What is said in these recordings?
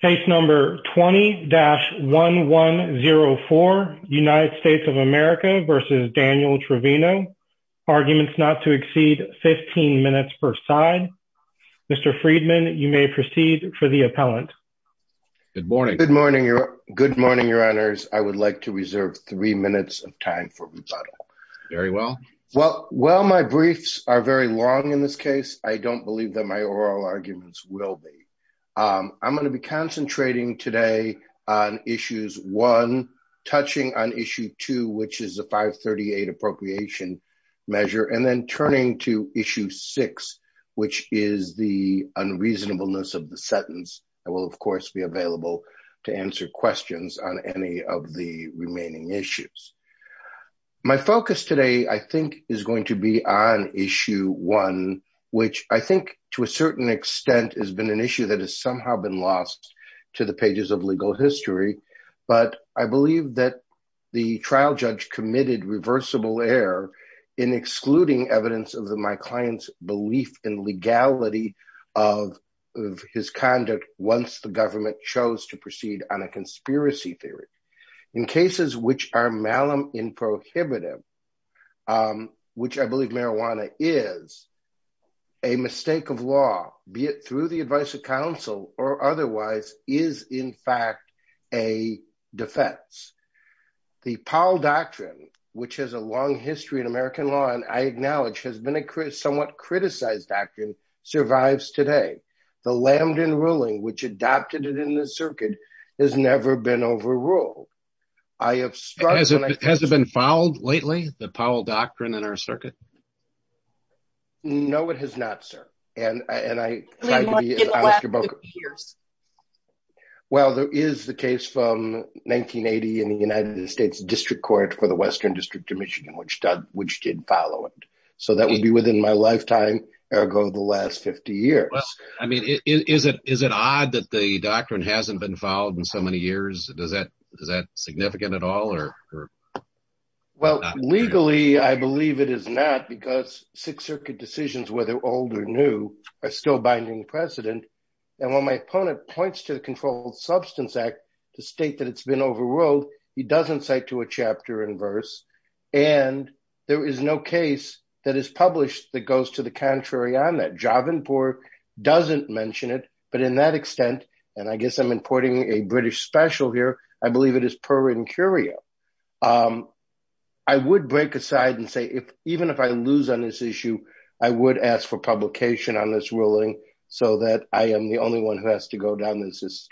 Case number 20-1104, United States of America v. Daniel Trevino, arguments not to exceed 15 minutes per side. Mr. Friedman, you may proceed for the appellant. Good morning. Good morning. Good morning, your honors. I would like to reserve three minutes of time for rebuttal. Very well. Well, while my briefs are very long in this case, I don't believe that my oral arguments will be. I'm going to be concentrating today on issues one, touching on issue two, which is the 538 appropriation measure, and then turning to issue six, which is the unreasonableness of the sentence. I will, of course, be available to answer questions on any of the remaining issues. My focus today I think is going to be on issue one, which I think to a certain extent has been an issue that has somehow been lost to the pages of legal history. But I believe that the trial judge committed reversible error in excluding evidence of my client's belief in legality of his conduct once the government chose to proceed on a conspiracy theory. In cases which are malin prohibitive, which I believe marijuana is, a mistake of law, be it through the advice of counsel or otherwise, is in fact a defense. The Powell Doctrine, which has a long history in American law and I acknowledge has been a somewhat criticized doctrine, survives today. The Lambdon ruling, which adopted it in the circuit, has never been overruled. Has it been fouled lately, the Powell Doctrine in our circuit? No, it has not, sir. Well, there is the case from 1980 in the United States District Court for the Western District of Michigan, which did follow it. So that would be within my lifetime, ergo the last 50 years. I mean, is it odd that the doctrine hasn't been fouled in so many years? Does that is that significant at all? Well, legally, I believe it is not because Sixth Circuit decisions, whether old or new, are still binding precedent. And when my opponent points to the Controlled Substance Act to state that it's been overruled, he doesn't cite to a chapter and verse. And there is no case that is published that goes to the contrary on that. Jovenport doesn't mention it. But in that extent, and I guess I'm importing a British special here, I believe it is per incurio. I would break aside and say if even if I lose on this issue, I would ask for publication on this ruling so that I am the only one who has to go down this that's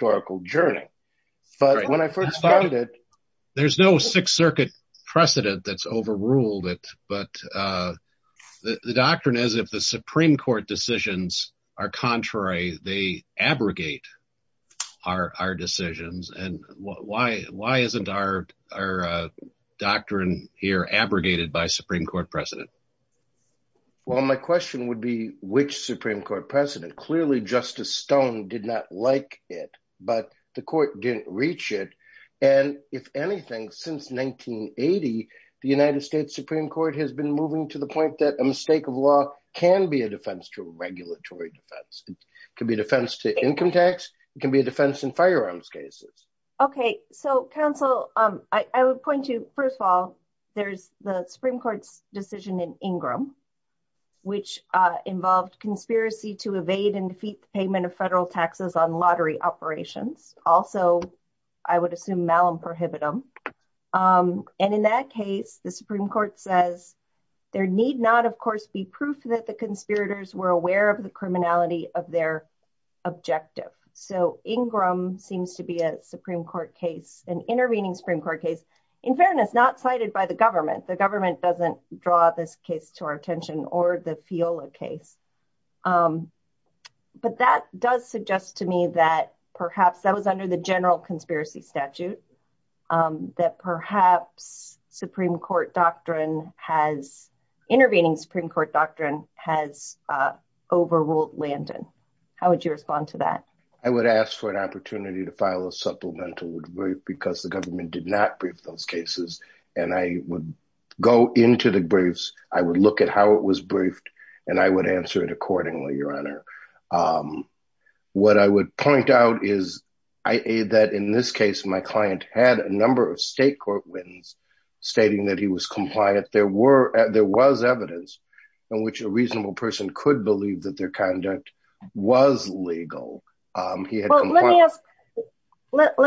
overruled it. But the doctrine is if the Supreme Court decisions are contrary, they abrogate our decisions. And why isn't our doctrine here abrogated by Supreme Court precedent? Well, my question would be, which Supreme Court president? Clearly, Justice Stone did not like it, but the court didn't reach it. And if anything, since 1980, the United States Supreme Court has been moving to the point that a mistake of law can be a defense to a regulatory defense, can be a defense to income tax, it can be a defense in firearms cases. Okay, so counsel, I would point to first of all, there's the Supreme Court's decision in Ingram, which involved conspiracy to evade and defeat the payment of federal taxes on lottery operations. Also, I would assume Malum prohibit them. And in that case, the Supreme Court says, there need not, of course, be proof that the conspirators were aware of the criminality of their objective. So Ingram seems to be a Supreme Court case, an intervening Supreme Court case, in fairness, not cited by the government. The government doesn't draw this case to our attention or the FIOLA case. But that does suggest to me that perhaps that was under the general conspiracy statute, that perhaps Supreme Court doctrine has intervening Supreme Court doctrine has overruled Landon. How would you respond to that? I would ask for an opportunity to file a supplemental because the government did not those cases. And I would go into the briefs, I would look at how it was briefed. And I would answer it accordingly, Your Honor. What I would point out is that in this case, my client had a number of state court wins, stating that he was compliant, there were there was evidence in which a reasonable person could believe that their conduct was legal. Let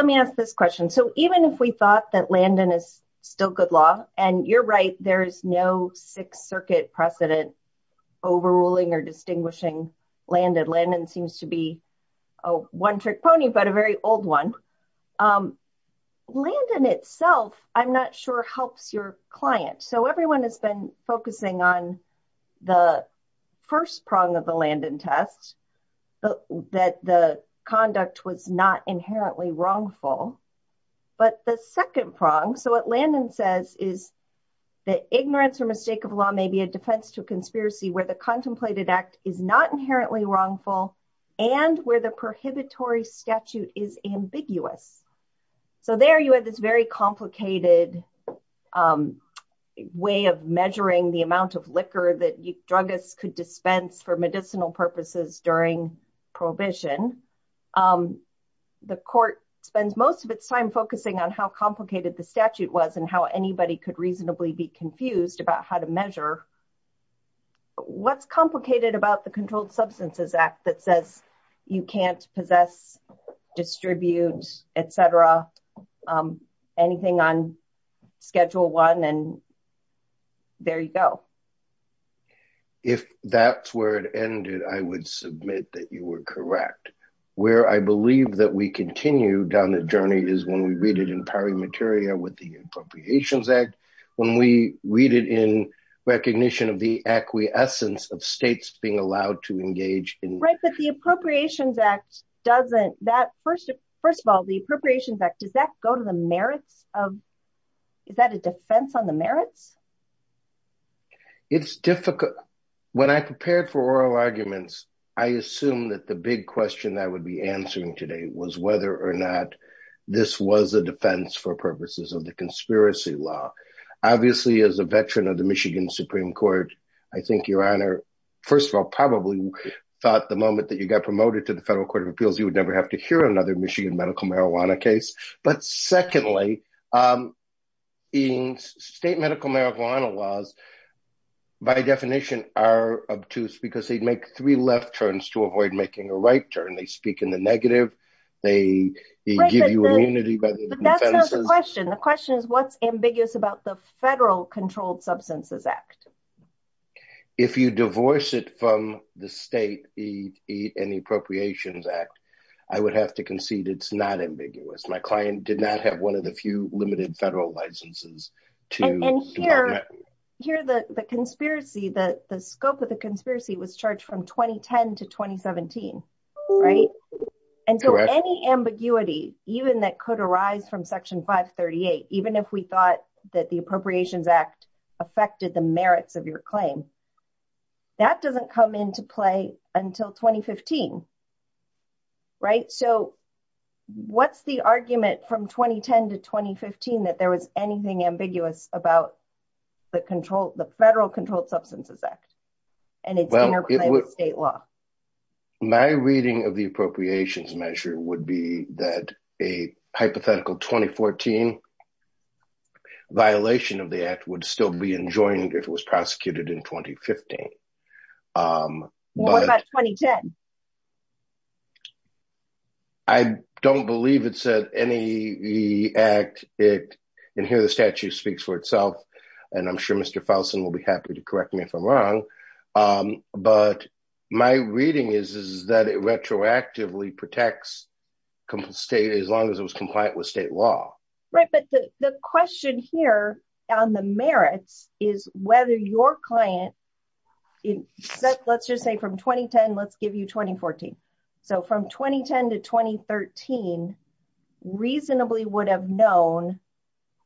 me ask this question. So even if we thought that Landon is still good law, and you're right, there's no Sixth Circuit precedent overruling or distinguishing Landon. Landon seems to be a one trick pony, but a very old one. Landon itself, I'm not sure helps your client. So everyone has been focusing on the but the second prong. So what Landon says is that ignorance or mistake of law may be a defense to conspiracy where the contemplated act is not inherently wrongful, and where the prohibitory statute is ambiguous. So there you have this very complicated way of measuring the amount of liquor that you drug us could dispense for medicinal purposes during provision. The court spends most of its time focusing on how complicated the statute was and how anybody could reasonably be confused about how to measure what's complicated about the Controlled Substances Act that says you can't possess, distribute, etc. Anything on schedule one and there you go. If that's where it ended, I would submit that you were correct, where I believe that we continue down the journey is when we read it in Pari Materia with the Appropriations Act, when we read it in recognition of the acquiescence of states being allowed to engage in. Right, but the Appropriations Act doesn't, that first of all, the Appropriations Act, does that go to the merits of, is that a defense on the merits? It's difficult. When I prepared for oral arguments, I assumed that the big question I would be answering today was whether or not this was a defense for purposes of the conspiracy law. Obviously, as a veteran of the Michigan Supreme Court, I think your Honor, first of all, probably thought the moment that you got promoted to the Federal Court of Appeals, you would never have to hear another Michigan medical marijuana case. But secondly, in state medical marijuana laws, by definition are obtuse because they make three left turns to avoid making a right turn. They speak in the negative, they give you immunity. The question is, what's ambiguous about the Federal Controlled Substances Act? If you divorce it from the state and the Appropriations Act, I would have to concede it's not ambiguous. My client did not have one of the few limited federal licenses. And here, the conspiracy, the scope of the conspiracy was charged from 2010 to 2017, right? And so any ambiguity, even that could arise from Section 538, even if we thought that the Appropriations Act affected the merits of your claim, that doesn't come into play until 2015, right? So what's the argument from 2010 to 2015 that there was anything ambiguous about the Federal Controlled Substances Act and its interplay with state law? My reading of the Appropriations measure would be that a hypothetical 2014 violation of the act would still be enjoined if it was prosecuted in 2015. Um, what about 2010? I don't believe it said any the act it in here, the statute speaks for itself. And I'm sure Mr. Fouson will be happy to correct me if I'm wrong. But my reading is, is that it retroactively protects state as long as it was compliant with state law, right? But the question here on the let's just say from 2010, let's give you 2014. So from 2010 to 2013, reasonably would have known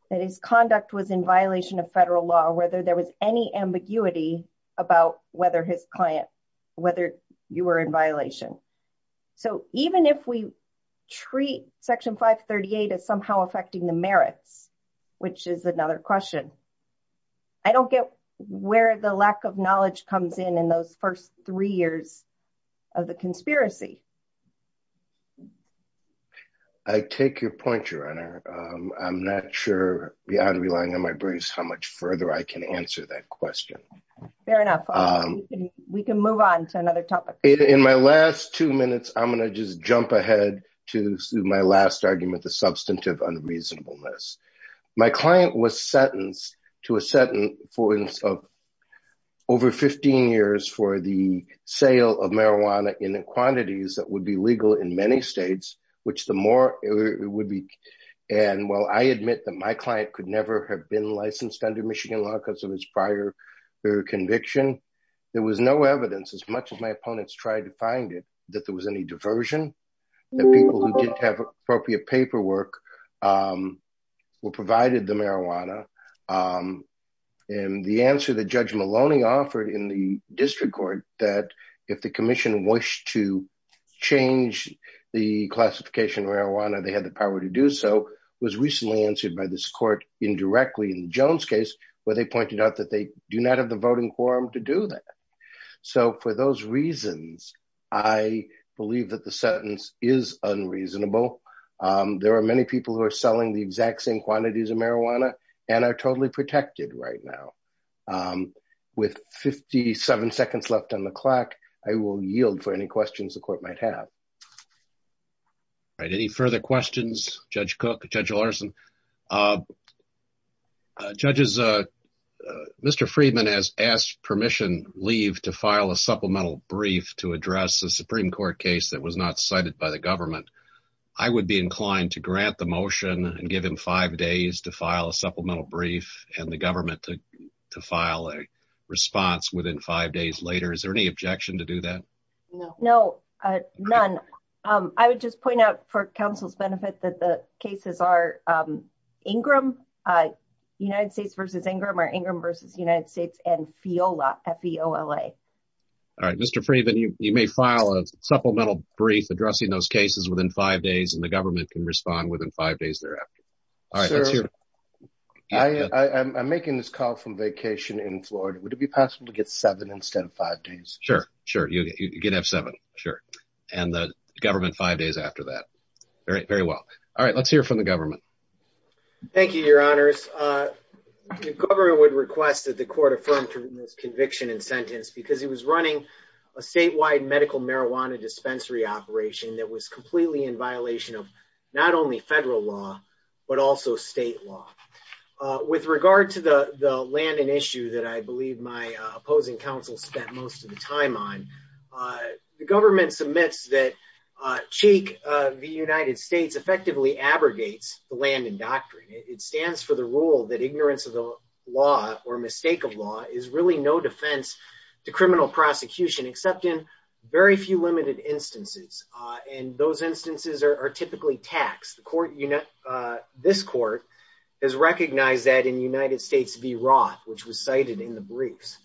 that his conduct was in violation of federal law, whether there was any ambiguity about whether his client, whether you were in violation. So even if we treat Section 538 as somehow affecting the first three years of the conspiracy. I take your point, Your Honor. I'm not sure beyond relying on my briefs how much further I can answer that question. Fair enough. We can move on to another topic. In my last two minutes, I'm going to just jump ahead to my last argument, the substantive unreasonableness. My client was sentenced to a sentence of over 15 years for the sale of marijuana in quantities that would be legal in many states, which the more it would be. And while I admit that my client could never have been licensed under Michigan law because of his prior conviction, there was no evidence as much as my opponents tried to find it, that there was any diversion, that people who didn't have appropriate paperwork were provided the marijuana. And the answer that Judge Maloney offered in the district court, that if the commission wished to change the classification of marijuana, they had the power to do so, was recently answered by this court indirectly in Jones case, where they pointed out that they do not have the voting quorum to do that. So for those reasons, I believe that the sentence is unreasonable. There are many people who are selling the exact same quantities of marijuana and are totally protected right now. With 57 seconds left on the clock, I will yield for any questions the court might have. All right. Any further questions, Judge Cook, Judge Larson? Judges, Mr. Freedman has asked permission leave to file a supplemental brief to address the Supreme Court case that was not cited by the government. I would be inclined to grant the motion and give him five days to file a supplemental brief and the government to file a response within five days later. Is there any objection to do that? No. No, none. I would just point out for counsel's benefit that the cases are Ingram, United States versus Ingram or Ingram versus United States and FEOLA, F-E-O-L-A. All right. Mr. Freedman, you may file a supplemental brief addressing those cases within five days and the government can respond within five days thereafter. All right. I'm making this call from vacation in Florida. Would it be possible to get seven instead of five days? Sure. Sure. You can have seven. Sure. And the government five days after that. Very well. All right. Let's hear from the government. Thank you, your honors. The government would request that the court affirm conviction and sentence because he was running a statewide medical marijuana dispensary operation that was completely in violation of not only federal law, but also state law. With regard to the land and issue that I believe my opposing counsel spent most of the time on, the government submits that Cheek v. United States effectively abrogates the land and doctrine. It stands for the rule that ignorance of the law or mistake of law is really no defense to criminal prosecution, except in very few limited instances. And those instances are typically taxed. This court has recognized that in United States v. Roth, which was cited in the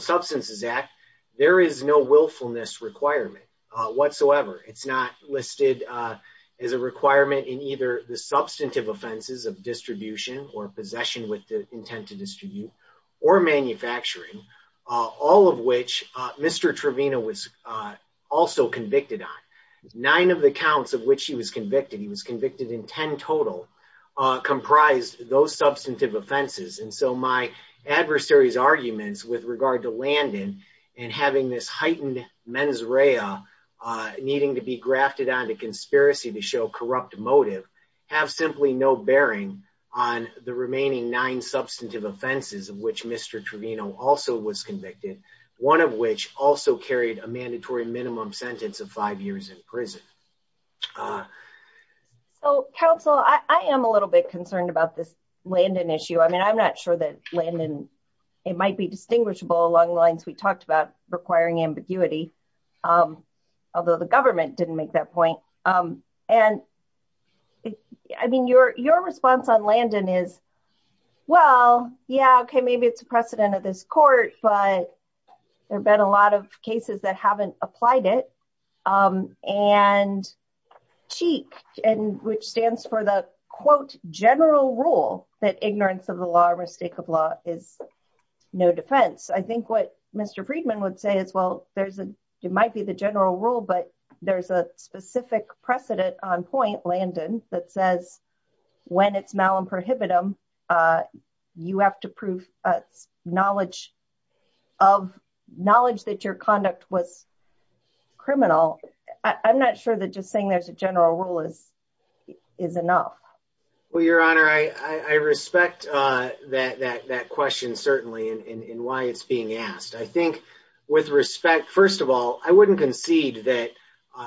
Substances Act, there is no willfulness requirement whatsoever. It's not listed as a requirement in either the substantive offenses of distribution or possession with the intent to distribute or manufacturing, all of which Mr. Trevino was also convicted on. Nine of the counts of which he was convicted, he was convicted in 10 total, comprised those substantive offenses. And so my adversary's arguments with regard to Landon and having this heightened mens rea needing to be grafted onto conspiracy to show corrupt motive have simply no bearing on the remaining nine substantive offenses of which Mr. Trevino also was convicted, one of which also carried a mandatory minimum sentence of five years in prison. So, counsel, I am a little bit concerned about this Landon issue. I mean, I'm not sure that Landon, it might be distinguishable along the lines we talked about requiring ambiguity, although the government didn't make that point. And I mean, your response on Landon is, well, yeah, okay, maybe it's a precedent of this court, but there have been a lot of cases that haven't applied it. And CHIC, which stands for the, quote, general rule that ignorance of the law or mistake of law is no defense. I think what Mr. Friedman would say is, well, there's a, it might be the general rule, but there's a specific precedent on point, Landon, that says, when it's malum prohibitum, you have to prove knowledge that your conduct was criminal. I'm not sure that just saying there's a general rule is enough. Well, Your Honor, I respect that question, certainly, and why it's being asked. I think with respect, first of all, I wouldn't concede that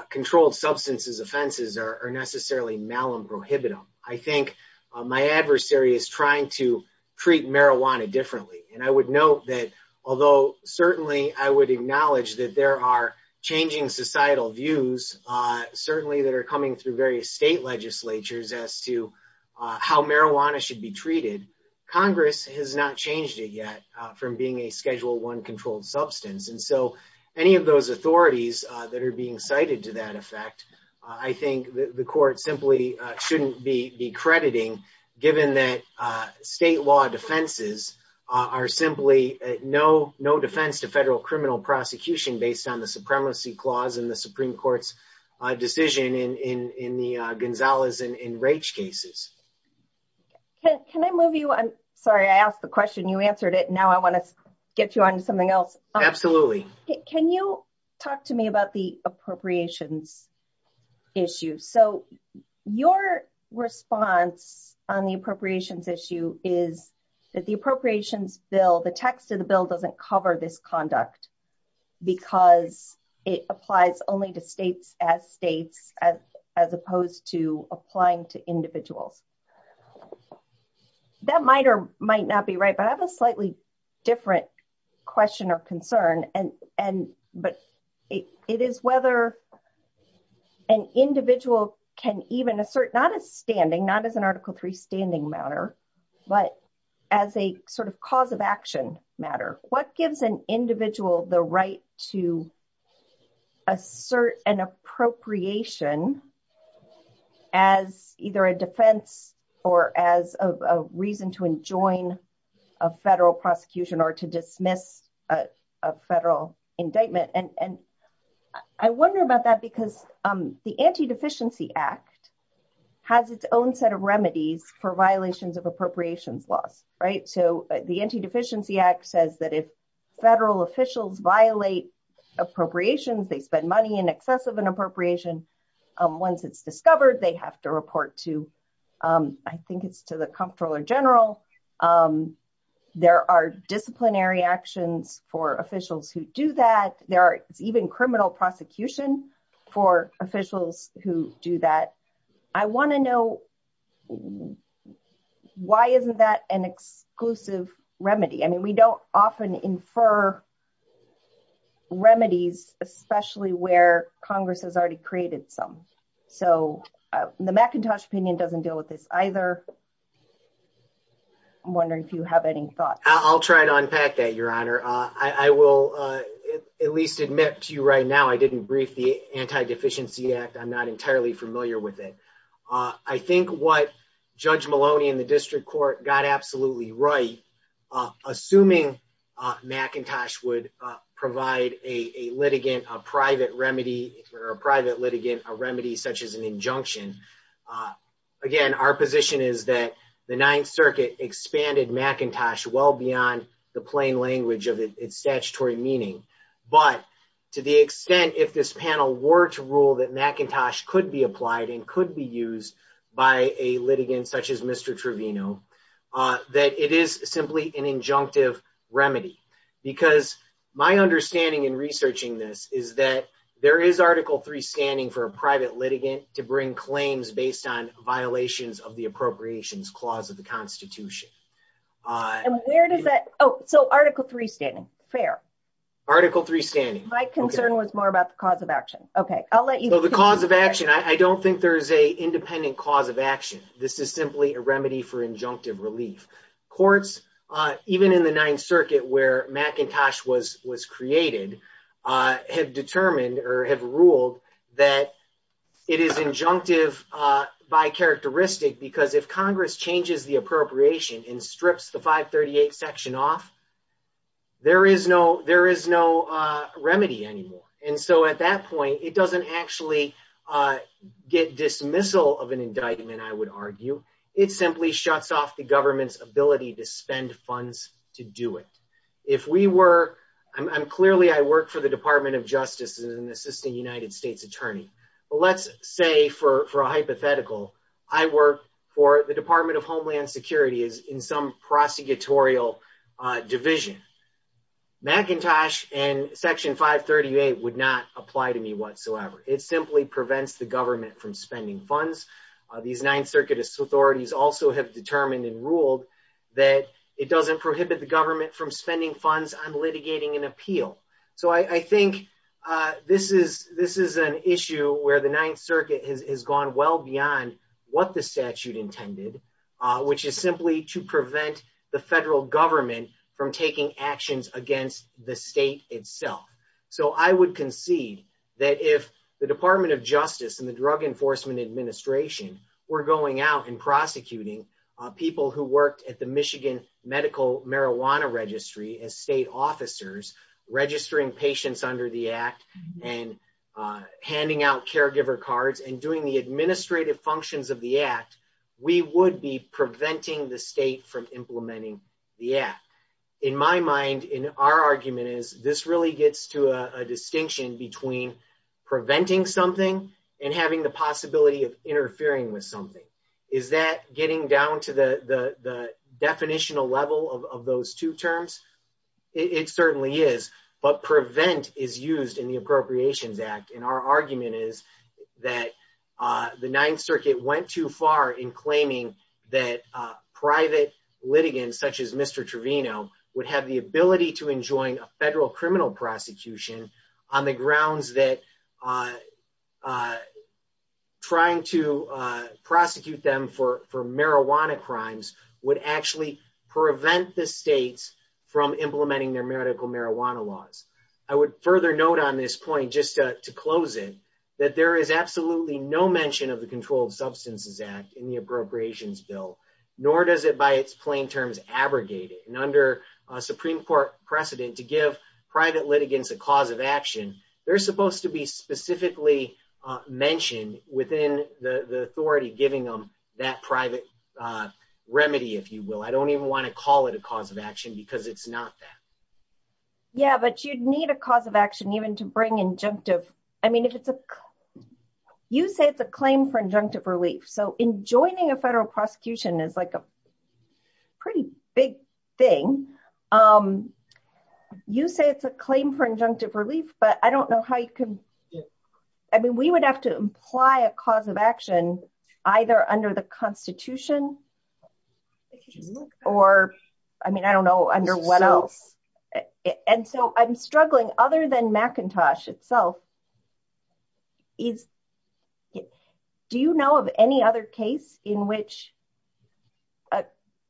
controlled substances offenses are necessarily malum prohibitum. I think my adversary is trying to treat marijuana differently. And I would note that, although certainly I would acknowledge that there are changing societal views, certainly that are coming through various state legislatures as to how marijuana should be treated, Congress has not changed it yet from being a Schedule I controlled substance. And so any of those authorities that are being cited to that effect, I think the court simply shouldn't be crediting, given that state law defenses are simply no defense to federal criminal prosecution based on the supremacy clause in the Supreme Court's decision in the Gonzalez and Raich cases. Can I move you on? Sorry, I asked the question, you answered it. Now I want to get you on to something else. Absolutely. Can you talk to me about the appropriations issue? So your response on the appropriations issue is that the appropriations bill, the text of the bill doesn't cover this conduct, because it applies only to states as states, as opposed to question or concern. But it is whether an individual can even assert, not as standing, not as an Article III standing matter, but as a sort of cause of action matter, what gives an individual the right to assert an appropriation as either a defense or as a reason to enjoin a federal prosecution or to dismiss a federal indictment. And I wonder about that, because the Anti-Deficiency Act has its own set of remedies for violations of appropriations laws, right? So the Anti-Deficiency Act says that if federal officials violate appropriations, they spend money in excess of an appropriation. Once it's discovered, they have to report to, I think it's to the Comptroller General. There are disciplinary actions for officials who do that. There are even criminal prosecution for officials who do that. I want to know why isn't that an exclusive remedy? I mean, we don't often infer remedies, especially where Congress has already created some. So the McIntosh opinion doesn't deal with this either. I'm wondering if you have any thoughts. I'll try to unpack that, Your Honor. I will at least admit to you right now, I didn't brief the Anti-Deficiency Act. I'm not entirely familiar with it. I think what Judge Maloney in the District Court got right, assuming McIntosh would provide a private litigant a remedy such as an injunction. Again, our position is that the Ninth Circuit expanded McIntosh well beyond the plain language of its statutory meaning. But to the extent if this panel were to rule that McIntosh could be that it is simply an injunctive remedy. Because my understanding in researching this is that there is Article III standing for a private litigant to bring claims based on violations of the Appropriations Clause of the Constitution. And where does that, oh, so Article III standing, fair. Article III standing. My concern was more about the cause of action. Okay, I'll let you. So the cause of action, I don't think there's a independent cause of action. This is simply a remedy for injunctive relief. Courts, even in the Ninth Circuit where McIntosh was created, have determined or have ruled that it is injunctive by characteristic. Because if Congress changes the appropriation and strips the 538 section off, there is no remedy anymore. And so at that point, it doesn't actually get dismissal of an indictment, I would argue. It simply shuts off the government's ability to spend funds to do it. If we were, I'm clearly, I work for the Department of Justice as an Assistant United States Attorney. But let's say for a hypothetical, I work for the Department of Homeland Security in some prosecutorial division. McIntosh and Section 538 would not apply to me whatsoever. It simply prevents the government from spending funds. These Ninth Circuit authorities also have determined and ruled that it doesn't prohibit the government from spending funds on litigating an appeal. So I think this is an issue where the Ninth Circuit has gone well beyond what the statute intended, which is simply to prevent the federal government from taking actions against the state itself. So I would concede that if the Department of Justice and the Drug Enforcement Administration were going out and prosecuting people who worked at the Michigan Medical Marijuana Registry as state officers, registering patients under the act and handing out caregiver cards and doing administrative functions of the act, we would be preventing the state from implementing the act. In my mind, in our argument is this really gets to a distinction between preventing something and having the possibility of interfering with something. Is that getting down to the definitional level of those two terms? It certainly is. But prevent is used in the Ninth Circuit went too far in claiming that private litigants, such as Mr. Trevino, would have the ability to enjoin a federal criminal prosecution on the grounds that trying to prosecute them for marijuana crimes would actually prevent the states from implementing their medical marijuana laws. I would further note on this point, just to close it, that there is absolutely no mention of the Controlled Substances Act in the Appropriations Bill, nor does it, by its plain terms, abrogate it. And under a Supreme Court precedent to give private litigants a cause of action, they're supposed to be specifically mentioned within the authority giving them that private remedy, if you will. I don't even want to call it a cause of action because it's not that. Yeah, but you'd need a cause of action even to bring I mean, you say it's a claim for injunctive relief. So enjoining a federal prosecution is like a pretty big thing. You say it's a claim for injunctive relief, but I don't know how you can. I mean, we would have to imply a cause of action, either under the Constitution, or, I mean, I don't know, under what else. And so I'm struggling. Other than McIntosh itself, is, do you know of any other case in which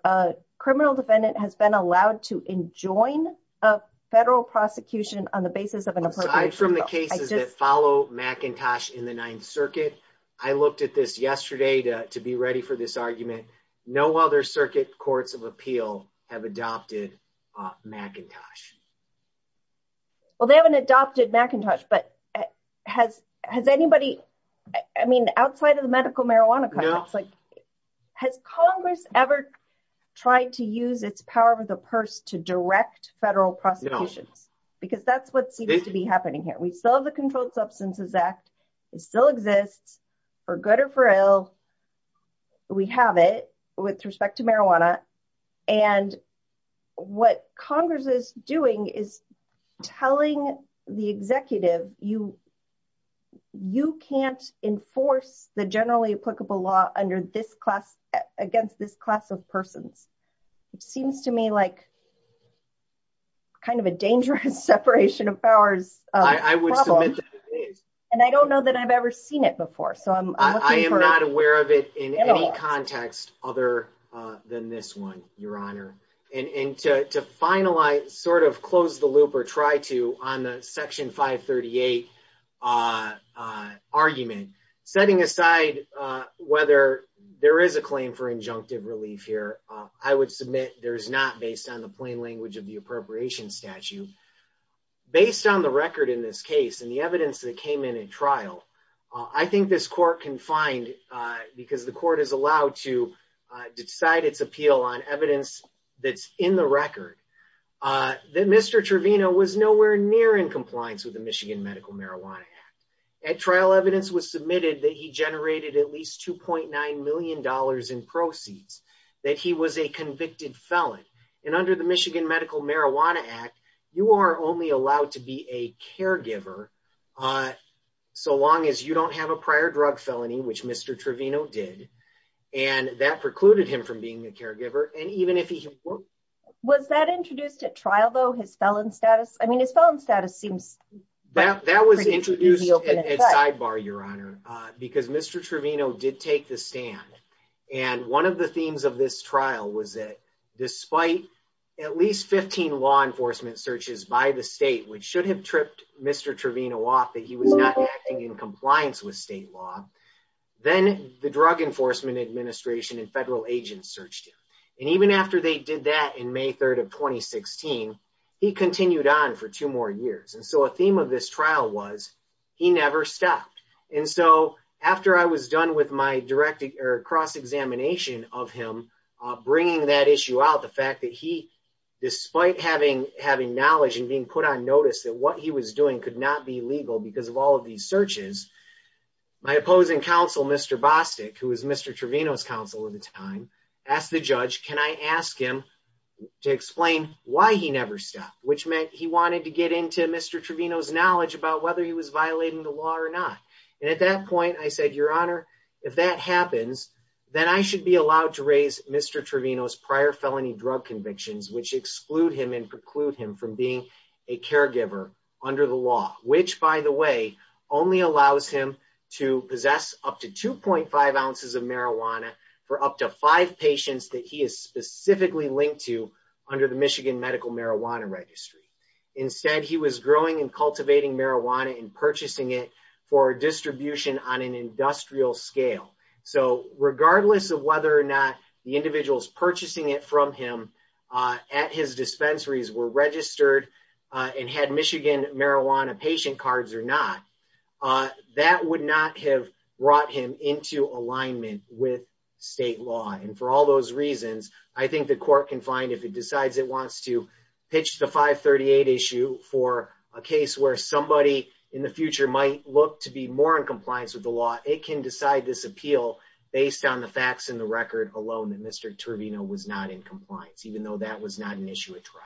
a criminal defendant has been allowed to enjoin a federal prosecution on the basis of an appropriation bill? Aside from the cases that follow McIntosh in the Ninth Circuit, I looked at this yesterday to be ready for this argument, no other circuit courts of appeal have adopted McIntosh. Well, they haven't adopted McIntosh, but has anybody, I mean, outside of the medical marijuana, it's like, has Congress ever tried to use its power of the purse to direct federal prosecutions? Because that's what seems to be happening here. We still have the Controlled Substances Act, it still exists, for good or for ill, we have it with respect to marijuana. And what Congress is doing is telling the executive, you can't enforce the generally applicable law under this class, against this class of persons. It seems to me like it's kind of a dangerous separation of powers problem. I would submit that it is. And I don't know that I've ever seen it before. I am not aware of it in any context other than this one, Your Honor. And to finalize, sort of close the loop or try to on the Section 538 argument, setting aside whether there is a appropriation statute, based on the record in this case and the evidence that came in at trial, I think this court can find, because the court is allowed to decide its appeal on evidence that's in the record, that Mr. Trevino was nowhere near in compliance with the Michigan Medical Marijuana Act. At trial, evidence was submitted that he generated at least $2.9 million in proceeds, that he was a convicted felon. And under the Michigan Medical Marijuana Act, you are only allowed to be a caregiver so long as you don't have a prior drug felony, which Mr. Trevino did. And that precluded him from being a caregiver. And even if he... Was that introduced at trial, though, his felon status? I mean, his felon status seems... That was introduced at sidebar, Your Honor, because Mr. Trevino did take the stand. And one of the themes of this trial was that despite at least 15 law enforcement searches by the state, which should have tripped Mr. Trevino off that he was not acting in compliance with state law, then the Drug Enforcement Administration and federal agents searched him. And even after they did that in May 3rd of 2016, he continued on for two more years. And so a theme of this trial was he never stopped. And so after I was done with my cross-examination of him bringing that issue out, the fact that he, despite having knowledge and being put on notice that what he was doing could not be legal because of all of these searches, my opposing counsel, Mr. Bostic, who was Mr. Trevino's counsel at the time, asked the judge, can I ask him to explain why he never stopped? Which meant he wanted to get into Mr. Trevino's knowledge about whether he was violating the law or not. And at that point, I said, Your Honor, if that happens, then I should be allowed to raise Mr. Trevino's prior felony drug convictions, which exclude him and preclude him from being a caregiver under the law, which by the way, only allows him to possess up to 2.5 ounces of marijuana for up to five patients that he is specifically linked to under the Michigan Medical Marijuana Registry. Instead, he was growing and cultivating marijuana and purchasing it for distribution on an industrial scale. So regardless of whether or not the individuals purchasing it from him at his dispensaries were registered and had Michigan marijuana patient cards or not, that would not have brought him into alignment with state law. And for all those reasons, I think the court can find if it decides it wants to pitch the 538 issue for a case where somebody in the future might look to be more in compliance with the law, it can decide this appeal based on the facts in the record alone that Mr. Trevino was not in compliance, even though that was not an issue at trial.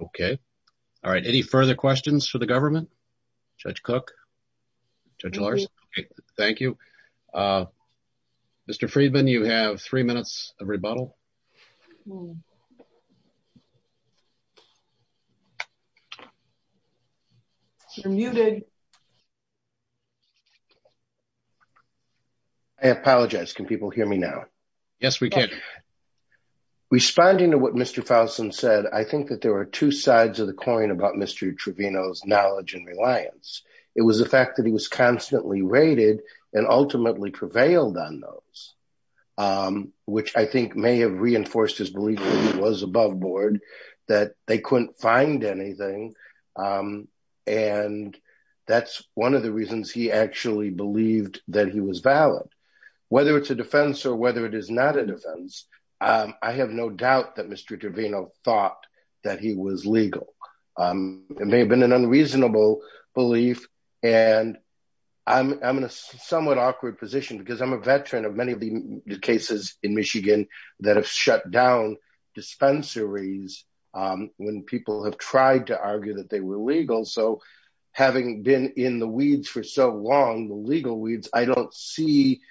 Okay. All right. Any further questions for the government? Judge Cook? Judge Larsen? Okay. Thank you. Mr. Friedman, you have three minutes of rebuttal. You're muted. I apologize. Can people hear me now? Yes, we can. Responding to what Mr. Fouson said, I think that there were two sides of the coin about Mr. Trevino's knowledge and reliance. It was the fact that he was constantly raided and ultimately prevailed on those, which I think may have reinforced his belief that he was above board, that they couldn't find anything. And that's one of the reasons he actually believed that he was valid. Whether it's a defense or whether it is not a defense, I have no doubt that Mr. Trevino thought that he was and I'm in a somewhat awkward position because I'm a veteran of many of the cases in Michigan that have shut down dispensaries when people have tried to argue that they were legal. So having been in the weeds for so long, the legal weeds, I don't see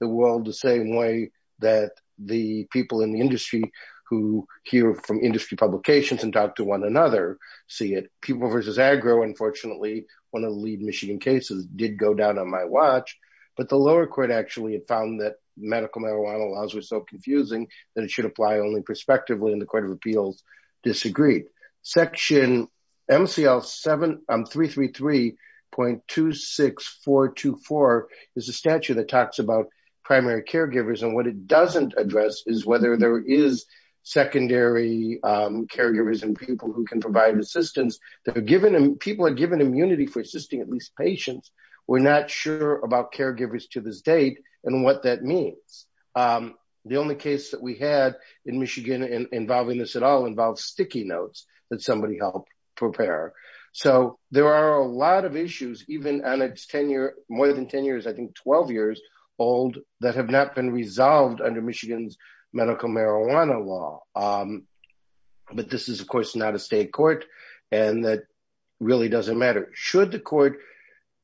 the world the same way that the people in the industry who hear from industry publications and talk to one another see it. People versus agro, unfortunately, one of the lead Michigan cases did go down on my watch, but the lower court actually had found that medical marijuana laws were so confusing that it should apply only prospectively and the Court of Appeals disagreed. Section MCL-333.26424 is a statute that talks about primary caregivers and what it doesn't address is whether there is secondary caregivers and people who can provide assistance. People are given immunity for assisting at least patients. We're not sure about caregivers to this date and what that means. The only case that we had in Michigan involving this at all involved sticky notes that somebody helped prepare. So there are a lot of issues, even on its more than 10 years, I think 12 years old that have not been resolved under Michigan's medical marijuana law. But this is, of course, not a state court and that really doesn't matter. Should the court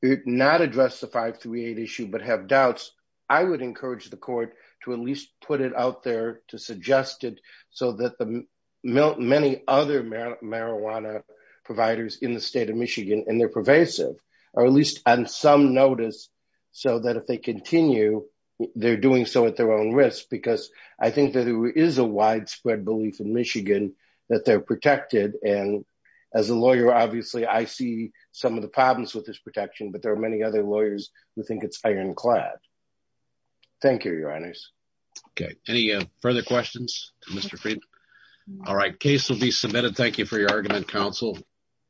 not address the 538 issue but have doubts, I would encourage the court to at least put it out there to suggest it so that the many other marijuana providers in the state of Michigan, and they're pervasive, or at least on some notice so that if they continue, they're doing so at their own risk because I think that there is a widespread belief in Michigan that they're protected and as a lawyer, obviously, I see some of the problems with this protection but there are many other lawyers who think it's ironclad. Thank you, your honors. Okay, any further questions, Mr. Friedman? All right, case will be submitted. Thank you for your time. Thank you, Mr. Friedman. Thank you for your time. Thank you for the argument, counsel.